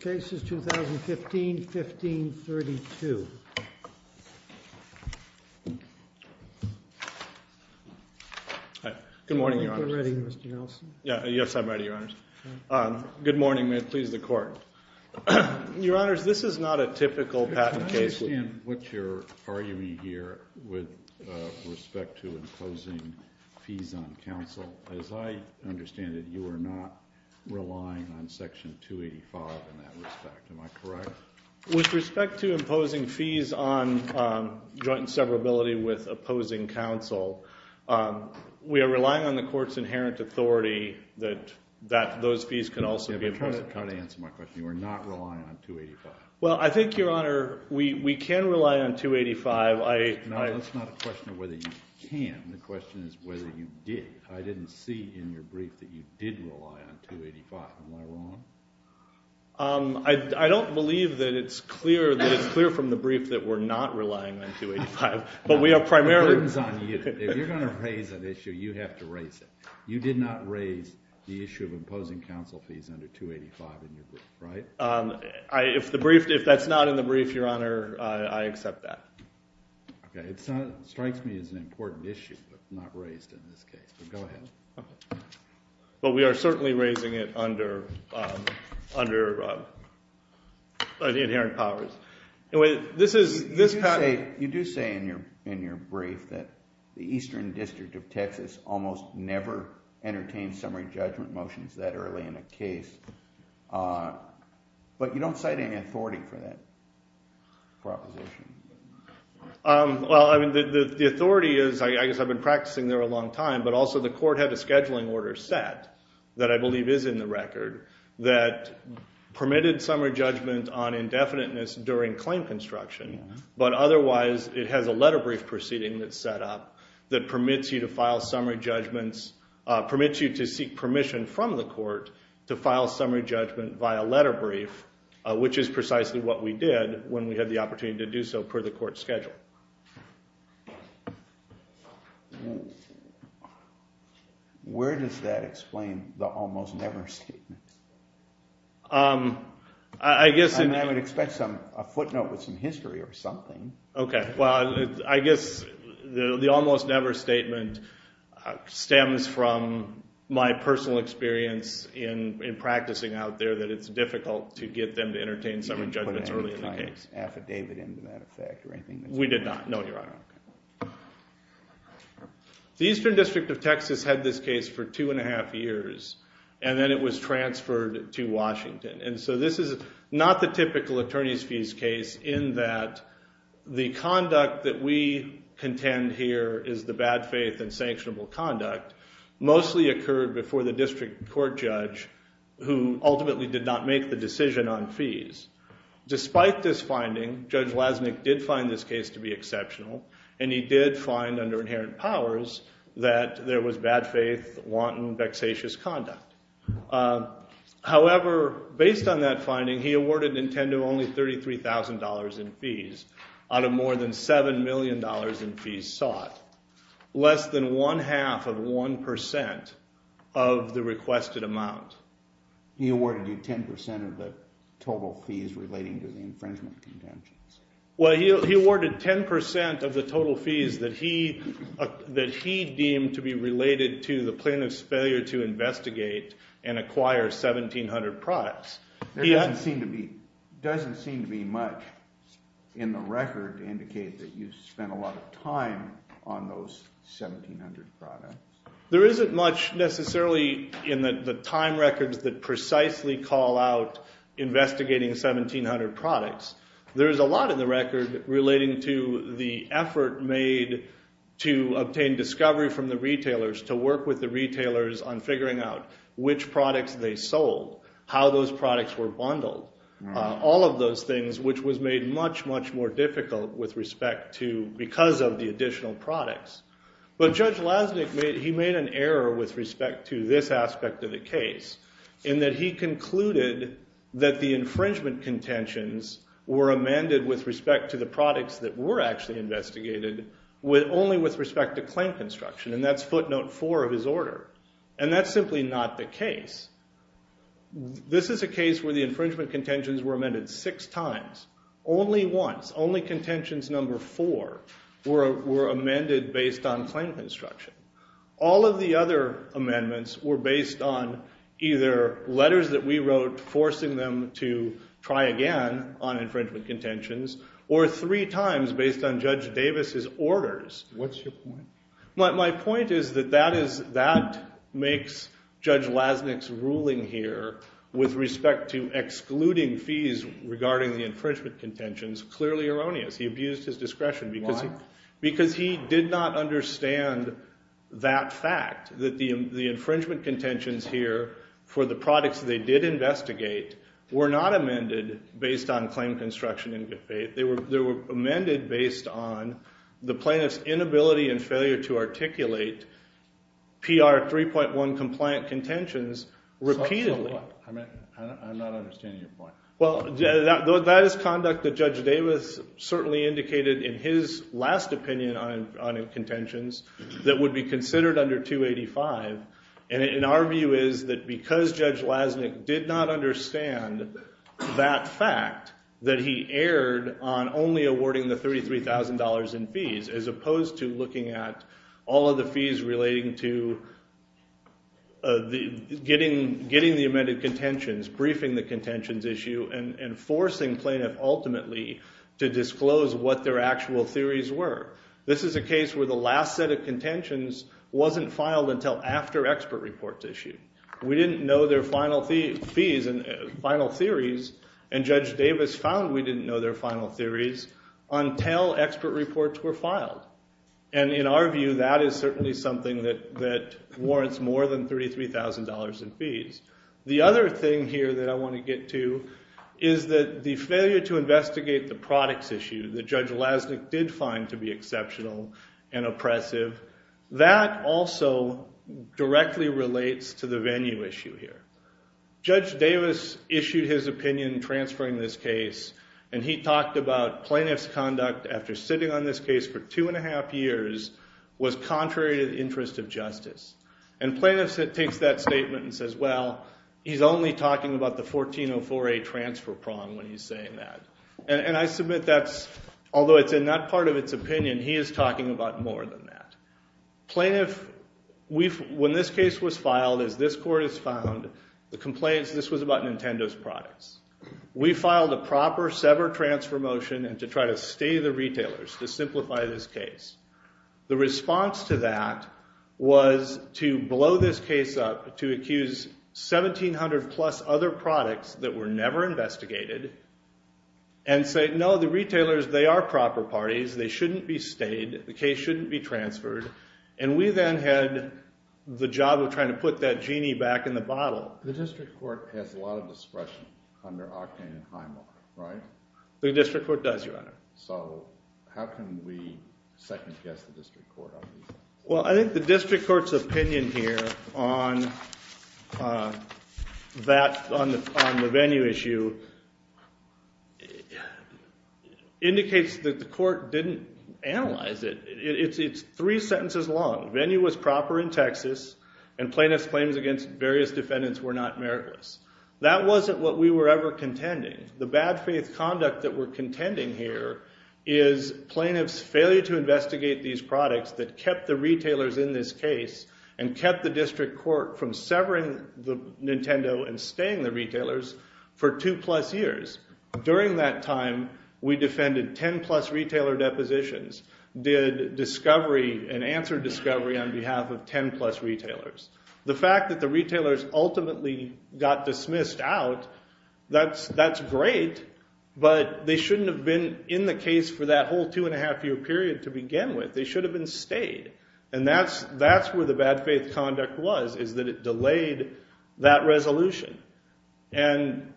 2015-15-32 Good morning, Your Honors. This is not a typical patent case. I understand what you're arguing here with respect to imposing fees on counsel. As I understand it, you are not relying on Section 285 in that respect. Am I correct? With respect to imposing fees on joint and severability with opposing counsel, we are relying on the court's inherent authority that those fees can also be imposed on counsel. Try to answer my question. You are not relying on 285. Well, I think, Your Honor, we can rely on 285. That's not a question of whether you can. The question is whether you did. I didn't see in your brief that you did rely on 285. Am I wrong? I don't believe that it's clear from the brief that we're not relying on 285, but we are primarily— The burden's on you. If you're going to raise an issue, you have to raise it. You did not raise the issue of imposing counsel fees under 285 in your brief, right? If that's not in the brief, Your Honor, I accept that. Okay. It strikes me as an important issue, but not raised in this case. But go ahead. But we are certainly raising it under the inherent powers. You do say in your brief that the Eastern District of Texas almost never entertains summary judgment motions that early in a case, but you don't cite any authority for that proposition. Well, I mean, the authority is—I guess I've been practicing there a long time, but also the court had a scheduling order set that I believe is in the record that permitted summary judgment on indefiniteness during claim construction. But otherwise, it has a letter brief proceeding that's set up that permits you to file summary judgments— permits you to seek permission from the court to file summary judgment via letter brief, which is precisely what we did when we had the opportunity to do so per the court schedule. Where does that explain the almost never statement? I guess— I would expect a footnote with some history or something. Okay. Well, I guess the almost never statement stems from my personal experience in practicing out there that it's difficult to get them to entertain summary judgments early in the case. You didn't put an affidavit into that effect or anything? We did not, no, Your Honor. The Eastern District of Texas had this case for two and a half years, and then it was transferred to Washington. And so this is not the typical attorney's fees case in that the conduct that we contend here is the bad faith and sanctionable conduct mostly occurred before the district court judge who ultimately did not make the decision on fees. Despite this finding, Judge Lasnik did find this case to be exceptional, and he did find under inherent powers that there was bad faith, wanton, vexatious conduct. However, based on that finding, he awarded Nintendo only $33,000 in fees out of more than $7 million in fees sought, less than one-half of 1% of the requested amount. He awarded you 10% of the total fees relating to the infringement contentions. Well, he awarded 10% of the total fees that he deemed to be related to the plaintiff's failure to investigate and acquire 1,700 products. There doesn't seem to be much in the record to indicate that you spent a lot of time on those 1,700 products. There isn't much necessarily in the time records that precisely call out investigating 1,700 products. There is a lot in the record relating to the effort made to obtain discovery from the retailers, to work with the retailers on figuring out which products they sold, how those products were bundled, all of those things, which was made much, much more difficult because of the additional products. But Judge Lasnik made an error with respect to this aspect of the case in that he concluded that the infringement contentions were amended with respect to the products that were actually investigated only with respect to claim construction, and that's footnote four of his order. And that's simply not the case. This is a case where the infringement contentions were amended six times, only once. Only contentions number four were amended based on claim construction. All of the other amendments were based on either letters that we wrote forcing them to try again on infringement contentions or three times based on Judge Davis's orders. What's your point? My point is that that makes Judge Lasnik's ruling here with respect to excluding fees regarding the infringement contentions clearly erroneous. He abused his discretion because he did not understand that fact, that the infringement contentions here for the products they did investigate were not amended based on claim construction. They were amended based on the plaintiff's inability and failure to articulate PR 3.1 compliant contentions repeatedly. I'm not understanding your point. Well, that is conduct that Judge Davis certainly indicated in his last opinion on contentions that would be considered under 285. And our view is that because Judge Lasnik did not understand that fact that he erred on only awarding the $33,000 in fees as opposed to looking at all of the fees relating to getting the amended contentions, briefing the contentions issue, and forcing plaintiff ultimately to disclose what their actual theories were. This is a case where the last set of contentions wasn't filed until after expert reports issued. We didn't know their final theories, and Judge Davis found we didn't know their final theories until expert reports were filed. And in our view, that is certainly something that warrants more than $33,000 in fees. The other thing here that I want to get to is that the failure to investigate the products issue that Judge Lasnik did find to be exceptional and oppressive, that also directly relates to the venue issue here. Judge Davis issued his opinion transferring this case, and he talked about plaintiff's conduct after sitting on this case for two and a half years was contrary to the interest of justice. And plaintiff takes that statement and says, well, he's only talking about the 1404A transfer prong when he's saying that. And I submit that's, although it's in that part of its opinion, he is talking about more than that. Plaintiff, when this case was filed, as this court has found, the complaints, this was about Nintendo's products. We filed a proper severed transfer motion to try to stay the retailers, to simplify this case. The response to that was to blow this case up, to accuse 1,700-plus other products that were never investigated, and say, no, the retailers, they are proper parties. They shouldn't be stayed. The case shouldn't be transferred. And we then had the job of trying to put that genie back in the bottle. The district court has a lot of discretion under Octane and Highmark, right? The district court does, Your Honor. So how can we second-guess the district court on these things? Well, I think the district court's opinion here on that, on the venue issue, indicates that the court didn't analyze it. It's three sentences long. Venue was proper in Texas, and plaintiff's claims against various defendants were not meritless. That wasn't what we were ever contending. The bad faith conduct that we're contending here is plaintiff's failure to investigate these products that kept the retailers in this case and kept the district court from severing Nintendo and staying the retailers for two-plus years. During that time, we defended 10-plus retailer depositions, did discovery and answered discovery on behalf of 10-plus retailers. The fact that the retailers ultimately got dismissed out, that's great, but they shouldn't have been in the case for that whole two-and-a-half-year period to begin with. They should have been stayed, and that's where the bad faith conduct was, is that it delayed that resolution. And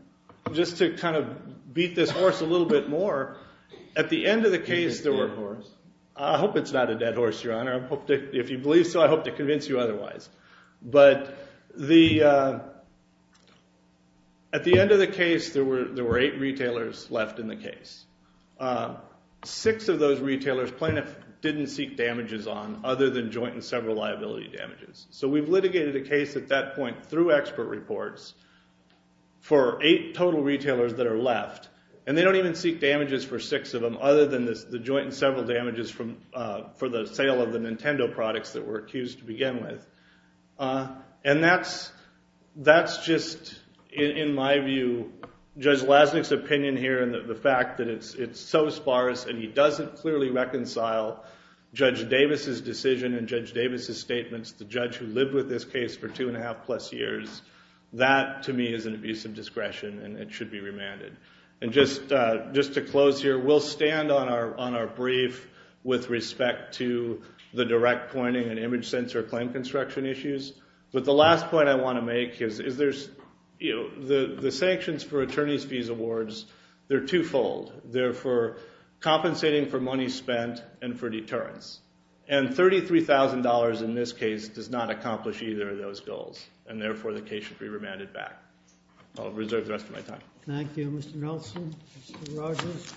just to kind of beat this horse a little bit more, at the end of the case, I hope it's not a dead horse, Your Honor. If you believe so, I hope to convince you otherwise. But at the end of the case, there were eight retailers left in the case. Six of those retailers plaintiff didn't seek damages on other than joint and several liability damages. So we've litigated a case at that point through expert reports for eight total retailers that are left, and they don't even seek damages for six of them other than the joint and several damages for the sale of the Nintendo products that were accused to begin with. And that's just, in my view, Judge Lasnik's opinion here, and the fact that it's so sparse and he doesn't clearly reconcile Judge Davis's decision and Judge Davis's statements, the judge who lived with this case for two-and-a-half-plus years, that, to me, is an abuse of discretion and it should be remanded. And just to close here, we'll stand on our brief with respect to the direct pointing and image sensor claim construction issues. But the last point I want to make is the sanctions for attorney's fees awards, they're twofold. They're for compensating for money spent and for deterrence. And $33,000 in this case does not accomplish either of those goals, and therefore the case should be remanded back. I'll reserve the rest of my time. Thank you, Mr. Nelson. Mr. Rogers.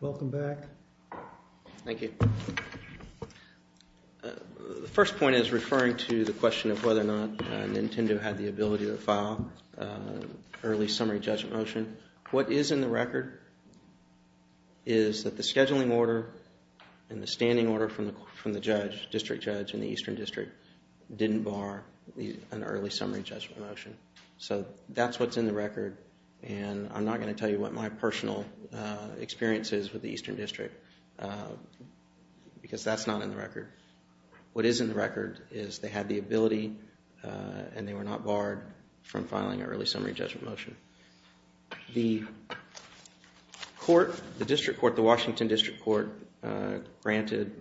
Welcome back. Thank you. The first point is referring to the question of whether or not Nintendo had the ability to file an early summary judgment motion. What is in the record is that the scheduling order and the standing order from the district judge in the Eastern District didn't bar an early summary judgment motion. So that's what's in the record, and I'm not going to tell you what my personal experience is with the Eastern District, because that's not in the record. What is in the record is they had the ability and they were not barred from filing an early summary judgment motion. The court, the district court, the Washington District Court, granted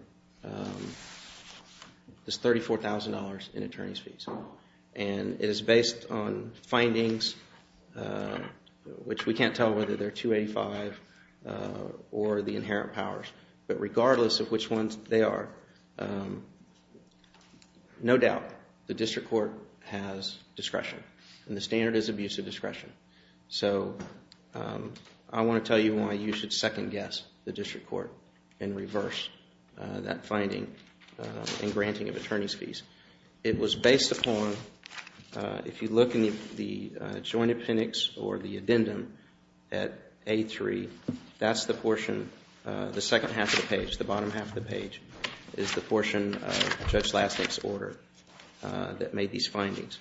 this $34,000 in attorney's fees. And it is based on findings, which we can't tell whether they're 285 or the inherent powers. But regardless of which ones they are, no doubt the district court has discretion. And the standard is abuse of discretion. So I want to tell you why you should second-guess the district court and reverse that finding in granting of attorney's fees. It was based upon, if you look in the joint appendix or the addendum at A3, that's the portion, the second half of the page, the bottom half of the page, is the portion of Judge Lasnik's order that made these findings.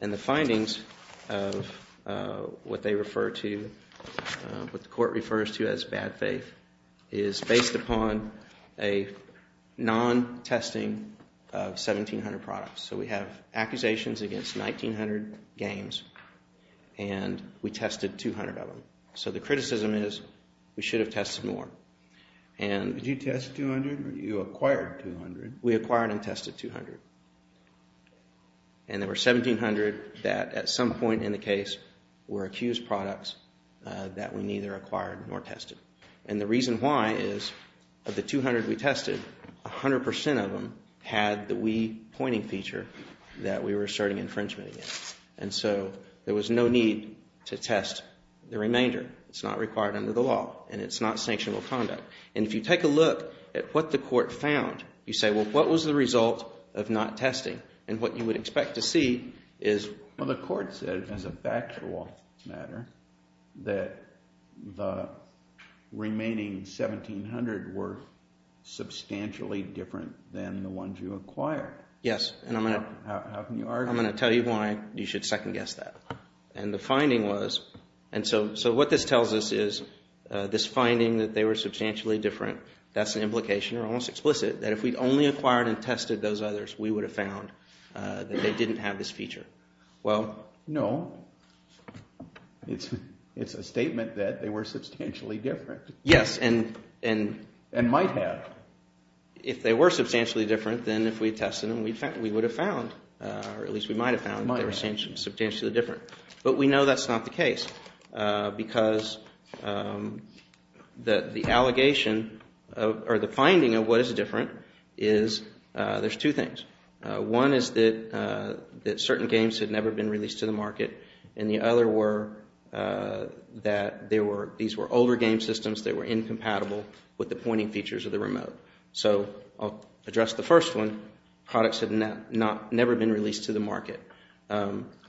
And the findings of what they refer to, what the court refers to as bad faith, is based upon a non-testing of 1,700 products. So we have accusations against 1,900 games and we tested 200 of them. So the criticism is we should have tested more. Did you test 200 or you acquired 200? We acquired and tested 200. And there were 1,700 that at some point in the case were accused products that we neither acquired nor tested. And the reason why is of the 200 we tested, 100% of them had the we pointing feature that we were asserting infringement against. And so there was no need to test the remainder. It's not required under the law and it's not sanctionable conduct. And if you take a look at what the court found, you say, well, what was the result of not testing? And what you would expect to see is... Well, the court said as a factual matter that the remaining 1,700 were substantially different than the ones you acquired. Yes, and I'm going to... How can you argue... I'm going to tell you why you should second guess that. And the finding was... And so what this tells us is this finding that they were substantially different, that's an implication or almost explicit, that if we'd only acquired and tested those others, we would have found that they didn't have this feature. Well... No. It's a statement that they were substantially different. Yes, and... And might have. If they were substantially different than if we tested them, we would have found, or at least we might have found... Might have. They were substantially different. But we know that's not the case because the allegation or the finding of what is different is there's two things. One is that certain games had never been released to the market, and the other were that these were older game systems that were incompatible with the pointing features of the remote. So I'll address the first one. Products had never been released to the market.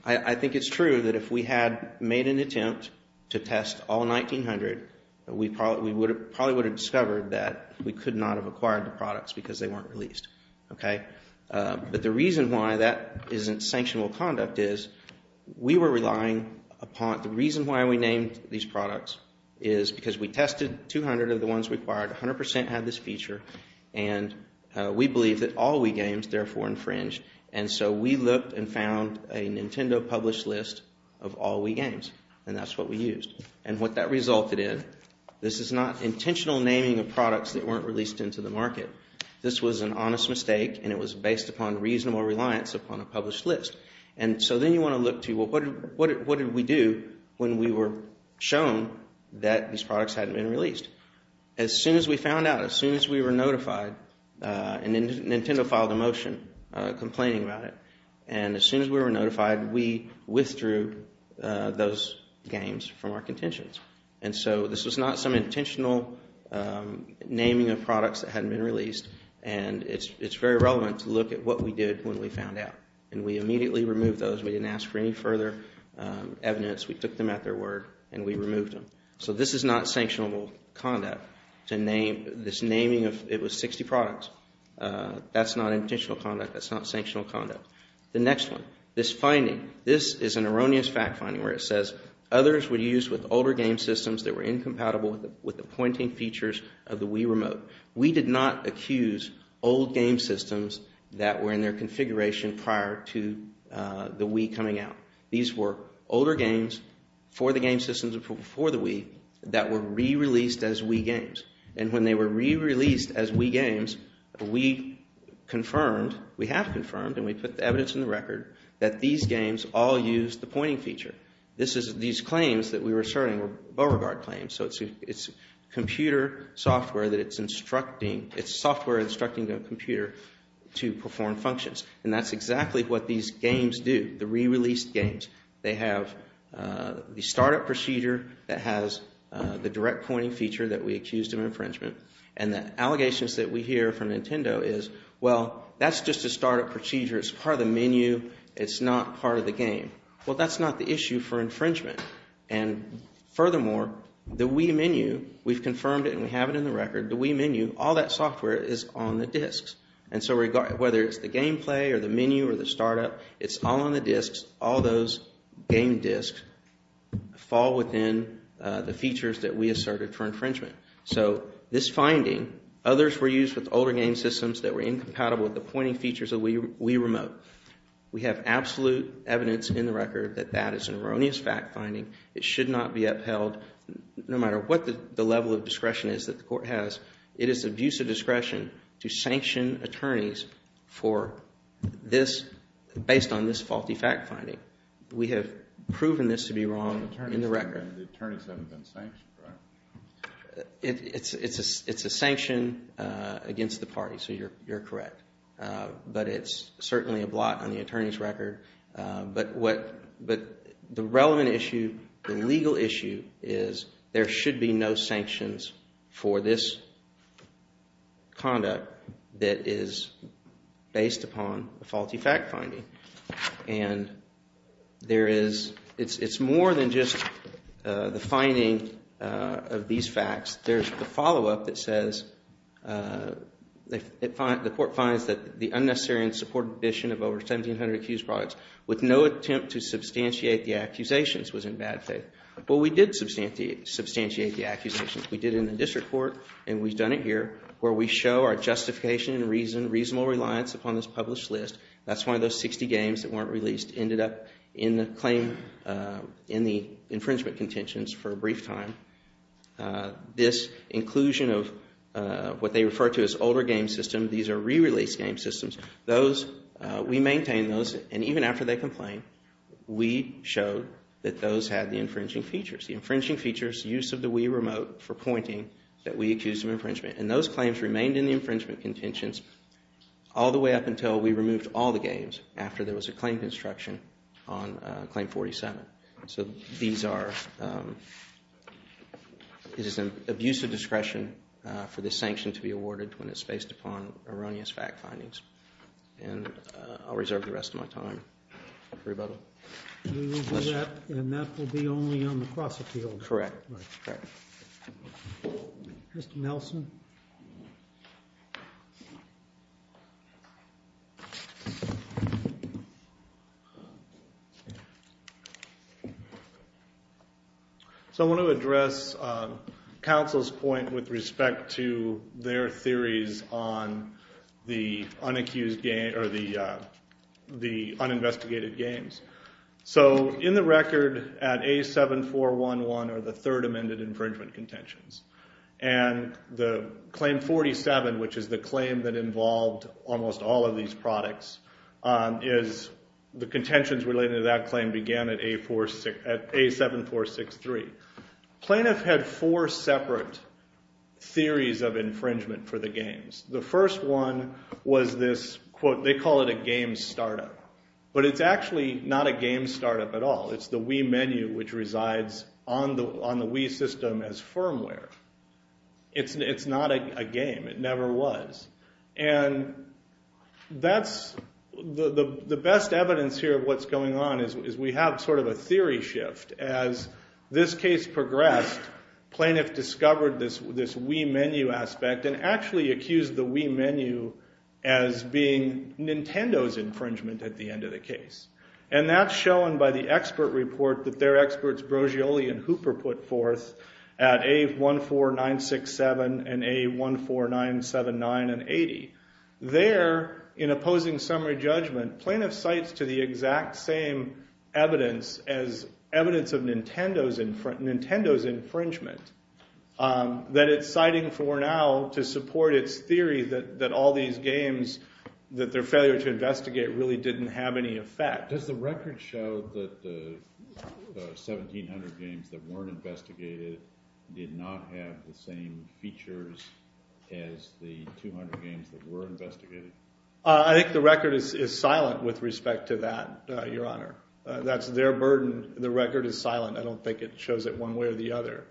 I think it's true that if we had made an attempt to test all 1,900, we probably would have discovered that we could not have acquired the products because they weren't released. But the reason why that isn't sanctionable conduct is we were relying upon... The reason why we named these products is because we tested 200 of the ones we acquired, 100 percent had this feature, and we believe that all Wii games therefore infringe. And so we looked and found a Nintendo published list of all Wii games, and that's what we used. And what that resulted in, this is not intentional naming of products that weren't released into the market. This was an honest mistake, and it was based upon reasonable reliance upon a published list. And so then you want to look to, well, what did we do when we were shown that these products hadn't been released? As soon as we found out, as soon as we were notified, Nintendo filed a motion complaining about it. And as soon as we were notified, we withdrew those games from our contentions. And so this was not some intentional naming of products that hadn't been released, and it's very relevant to look at what we did when we found out. And we immediately removed those. We didn't ask for any further evidence. We took them at their word, and we removed them. So this is not sanctionable conduct. This naming of, it was 60 products. That's not intentional conduct. That's not sanctional conduct. The next one, this finding. This is an erroneous fact finding where it says, others were used with older game systems that were incompatible with the pointing features of the Wii Remote. We did not accuse old game systems that were in their configuration prior to the Wii coming out. These were older games for the game systems before the Wii that were re-released as Wii games. And when they were re-released as Wii games, we confirmed, we have confirmed, and we put the evidence in the record, that these games all used the pointing feature. These claims that we were asserting were Beauregard claims. So it's computer software that it's instructing, it's software instructing a computer to perform functions. And that's exactly what these games do, the re-released games. They have the startup procedure that has the direct pointing feature that we accused of infringement. And the allegations that we hear from Nintendo is, well, that's just a startup procedure. It's part of the menu. It's not part of the game. Well, that's not the issue for infringement. And furthermore, the Wii menu, we've confirmed it and we have it in the record, the Wii menu, all that software is on the disks. And so whether it's the gameplay or the menu or the startup, it's all on the disks. All those game disks fall within the features that we asserted for infringement. So this finding, others were used with older game systems that were incompatible with the pointing features of Wii Remote. We have absolute evidence in the record that that is an erroneous fact finding. It should not be upheld, no matter what the level of discretion is that the court has. It is of use of discretion to sanction attorneys for this, based on this faulty fact finding. We have proven this to be wrong in the record. The attorneys haven't been sanctioned, correct? It's a sanction against the party, so you're correct. But it's certainly a blot on the attorney's record. But the relevant issue, the legal issue, is there should be no sanctions for this conduct that is based upon a faulty fact finding. And there is, it's more than just the finding of these facts. There's the follow-up that says, the court finds that the unnecessary and supported addition of over 1,700 accused products with no attempt to substantiate the accusations was in bad faith. Well, we did substantiate the accusations. We did it in the district court, and we've done it here, where we show our justification and reasonable reliance upon this published list. That's one of those 60 games that weren't released, ended up in the infringement contentions for a brief time. This inclusion of what they refer to as older game systems, these are re-release game systems, we maintain those, and even after they complain, we showed that those had the infringing features. The infringing features, use of the Wii remote for pointing that we accused of infringement. And those claims remained in the infringement contentions all the way up until we removed all the games after there was a claim construction on Claim 47. So these are, it is an abuse of discretion for this sanction to be awarded when it's based upon erroneous fact findings. And I'll reserve the rest of my time for rebuttal. We will do that, and that will be only on the cross-appeal. Correct. Mr. Nelson? So I want to address counsel's point with respect to their theories on the uninvestigated games. So in the record, at A7411 are the third amended infringement contentions. And the Claim 47, which is the claim that involved almost all of these products, is the contentions related to that claim began at A7463. Plaintiff had four separate theories of infringement for the games. The first one was this, quote, they call it a game startup. But it's actually not a game startup at all. It's the Wii menu, which resides on the Wii system as firmware. It's not a game. It never was. And that's, the best evidence here of what's going on is we have sort of a theory shift as this case progressed, plaintiff discovered this Wii menu aspect and actually accused the Wii menu as being Nintendo's infringement at the end of the case. And that's shown by the expert report that their experts Brogioli and Hooper put forth at A14967 and A14979 and 80. There, in opposing summary judgment, plaintiff cites to the exact same evidence as evidence of Nintendo's infringement that it's citing for now to support its theory that all these games that their failure to investigate really didn't have any effect. Does the record show that the 1,700 games that weren't investigated did not have the same features as the 200 games that were investigated? I think the record is silent with respect to that, Your Honor. That's their burden. The record is silent. I don't think it shows it one way or the other.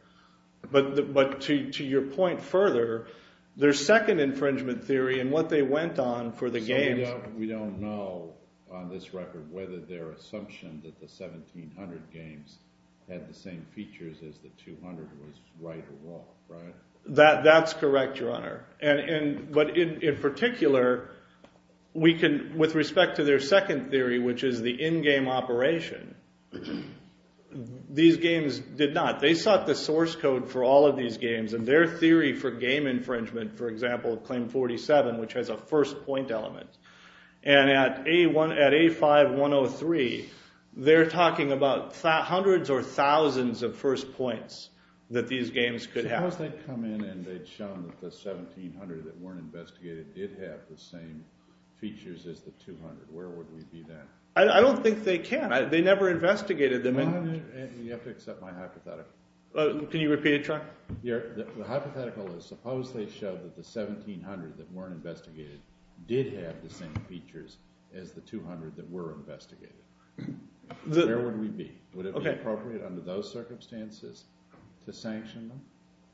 But to your point further, their second infringement theory and what they went on for the games... So we don't know on this record whether their assumption that the 1,700 games had the same features as the 200 was right or wrong, right? That's correct, Your Honor. But in particular, with respect to their second theory, which is the in-game operation, these games did not. They sought the source code for all of these games, and their theory for game infringement, for example, Claim 47, which has a first point element. And at A5103, they're talking about hundreds or thousands of first points that these games could have. Suppose they'd come in and they'd shown that the 1,700 that weren't investigated did have the same features as the 200. Where would we be then? I don't think they can. They never investigated them. You have to accept my hypothetical. Can you repeat it, Your Honor? The hypothetical is suppose they showed that the 1,700 that weren't investigated did have the same features as the 200 that were investigated. Where would we be? Would it be appropriate under those circumstances to sanction them?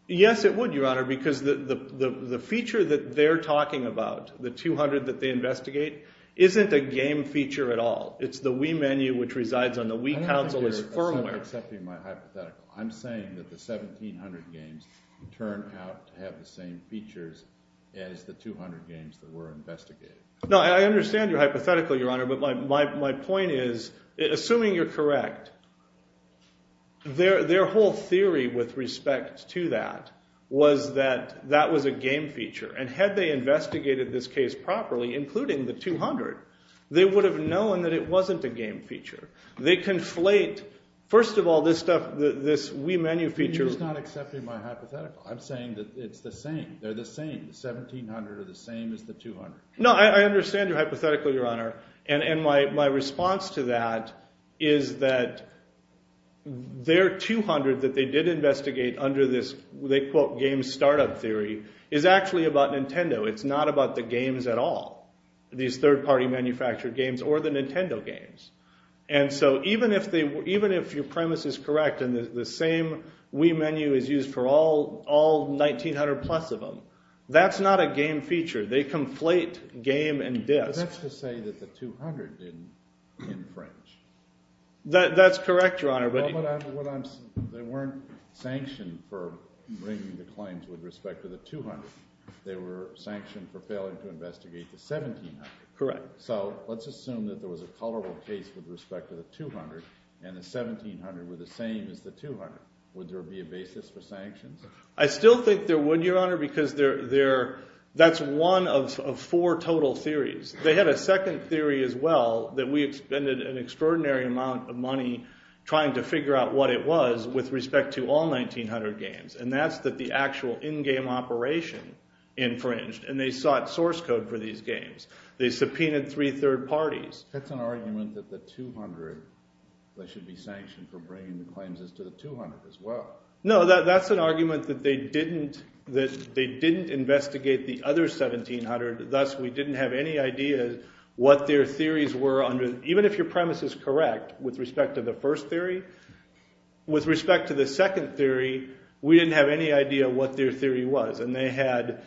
Yes, it would, Your Honor, because the feature that they're talking about, the 200 that they investigate, isn't a game feature at all. It's the Wii menu, which resides on the Wii console as firmware. I don't think you're accepting my hypothetical. I'm saying that the 1,700 games turned out to have the same features as the 200 games that were investigated. No, I understand your hypothetical, Your Honor, but my point is, assuming you're correct, their whole theory with respect to that was that that was a game feature. And had they investigated this case properly, including the 200, they would have known that it wasn't a game feature. They conflate, first of all, this Wii menu feature... You're just not accepting my hypothetical. I'm saying that it's the same. They're the same. The 1,700 are the same as the 200. No, I understand your hypothetical, Your Honor, and my response to that is that their 200 that they did investigate under this, they quote, game startup theory, is actually about Nintendo. It's not about the games at all, these third-party manufactured games or the Nintendo games. And so even if your premise is correct and the same Wii menu is used for all 1,900-plus of them, that's not a game feature. They conflate game and disc. But that's to say that the 200 didn't infringe. That's correct, Your Honor, but... Well, but they weren't sanctioned for bringing the claims with respect to the 200. They were sanctioned for failing to investigate the 1,700. Correct. So let's assume that there was a culpable case with respect to the 200 and the 1,700 were the same as the 200. Would there be a basis for sanctions? I still think there would, Your Honor, because they're... One of four total theories. They had a second theory as well that we expended an extraordinary amount of money trying to figure out what it was with respect to all 1,900 games, and that's that the actual in-game operation infringed, and they sought source code for these games. They subpoenaed three third parties. That's an argument that the 200 that should be sanctioned for bringing the claims is to the 200 as well. No, that's an argument that they didn't investigate the other 1,700, thus we didn't have any idea what their theories were under... Even if your premise is correct with respect to the first theory, with respect to the second theory, we didn't have any idea what their theory was, and they had...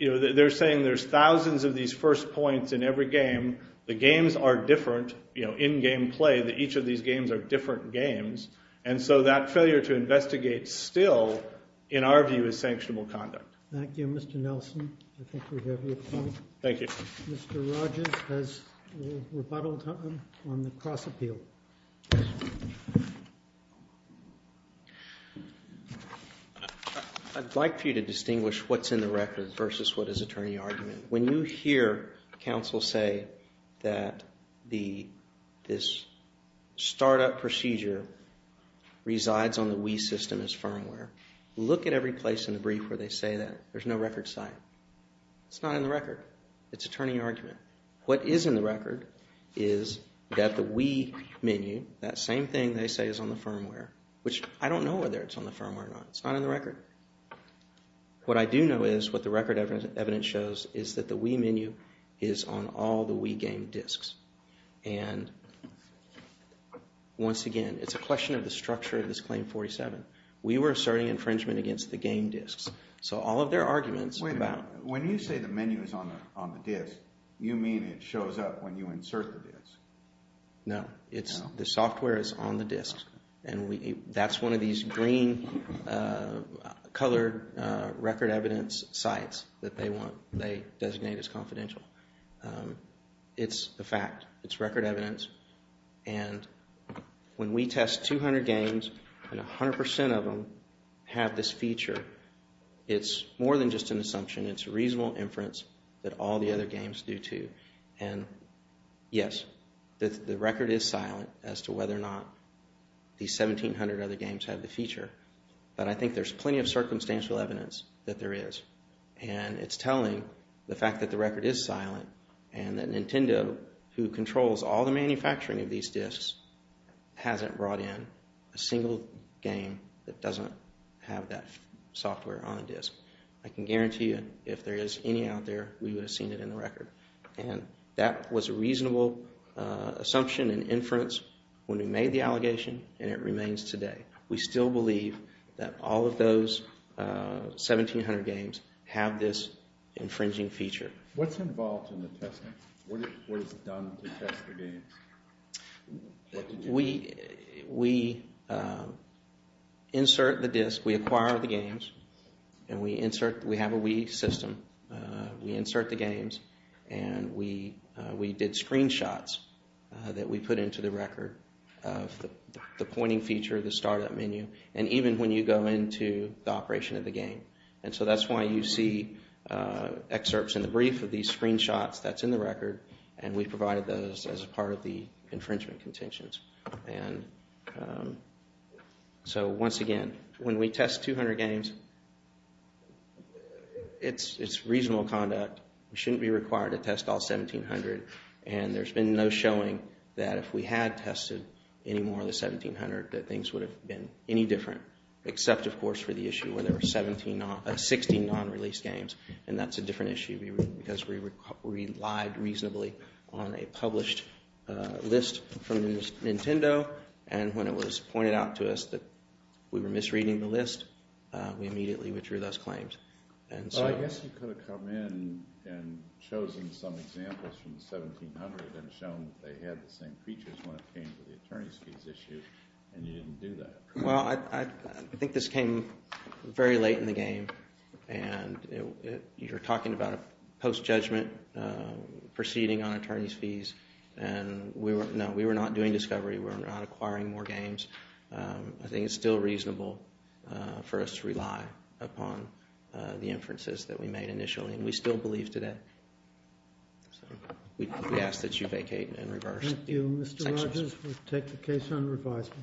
They're saying there's thousands of these first points in every game. The games are different, you know, in-game play, that each of these games are different games, and so that failure to investigate still, in our view, is sanctionable conduct. Thank you, Mr. Nelson. I think we have your point. Thank you. Mr. Rogers has rebuttaled on the cross-appeal. I'd like for you to distinguish what's in the record versus what is attorney argument. When you hear counsel say that this startup procedure resides on the Wii system as firmware, look at every place in the brief where they say that. There's no record site. It's not in the record. It's attorney argument. What is in the record is that the Wii menu, that same thing they say is on the firmware, which I don't know whether it's on the firmware or not. It's not in the record. What I do know is, what the record evidence shows, is that the Wii menu is on all the Wii game disks. And once again, it's a question of the structure of this Claim 47. We were asserting infringement against the game disks. So all of their arguments about... Wait a minute. When you say the menu is on the disk, you mean it shows up when you insert the disk. No. The software is on the disk. And that's one of these green-colored record evidence sites that they designate as confidential. It's a fact. It's record evidence. And when we test 200 games, and 100% of them have this feature, it's more than just an assumption. It's reasonable inference that all the other games do too. And yes, the record is silent as to whether or not these 1,700 other games have the feature. But I think there's plenty of circumstantial evidence that there is. And it's telling the fact that the record is silent and that Nintendo, who controls all the manufacturing of these disks, hasn't brought in a single game that doesn't have that software on a disk. I can guarantee you, if there is any out there, we would have seen it in the record. And that was a reasonable assumption and inference when we made the allegation, and it remains today. We still believe that all of those 1,700 games have this infringing feature. What's involved in the testing? What is done to test the games? We insert the disk, we acquire the games, and we have a Wii system. We insert the games, and we did screenshots that we put into the record of the pointing feature, the startup menu, and even when you go into the operation of the game. And so that's why you see excerpts in the brief of these screenshots that's in the record, and we provided those as part of the infringement contentions. And so once again, when we test 200 games, it's reasonable conduct. We shouldn't be required to test all 1,700. And there's been no showing that if we had tested any more than 1,700, that things would have been any different. Except, of course, for the issue where there were 16 non-release games, and that's a different issue because we relied reasonably on a published list from Nintendo, and when it was pointed out to us that we were misreading the list, we immediately withdrew those claims. Well, I guess you could have come in and chosen some examples from the 1,700 and shown that they had the same features when it came to the attorney's fees issue, and you didn't do that. Well, I think this came very late in the game, and you're talking about a post-judgment proceeding on attorney's fees, and no, we were not doing discovery. We were not acquiring more games. I think it's still reasonable for us to rely upon the inferences that we made initially, and we still believe today. So we ask that you vacate and reverse the sections. Thank you. Mr. Rogers, we'll take the case on revisal.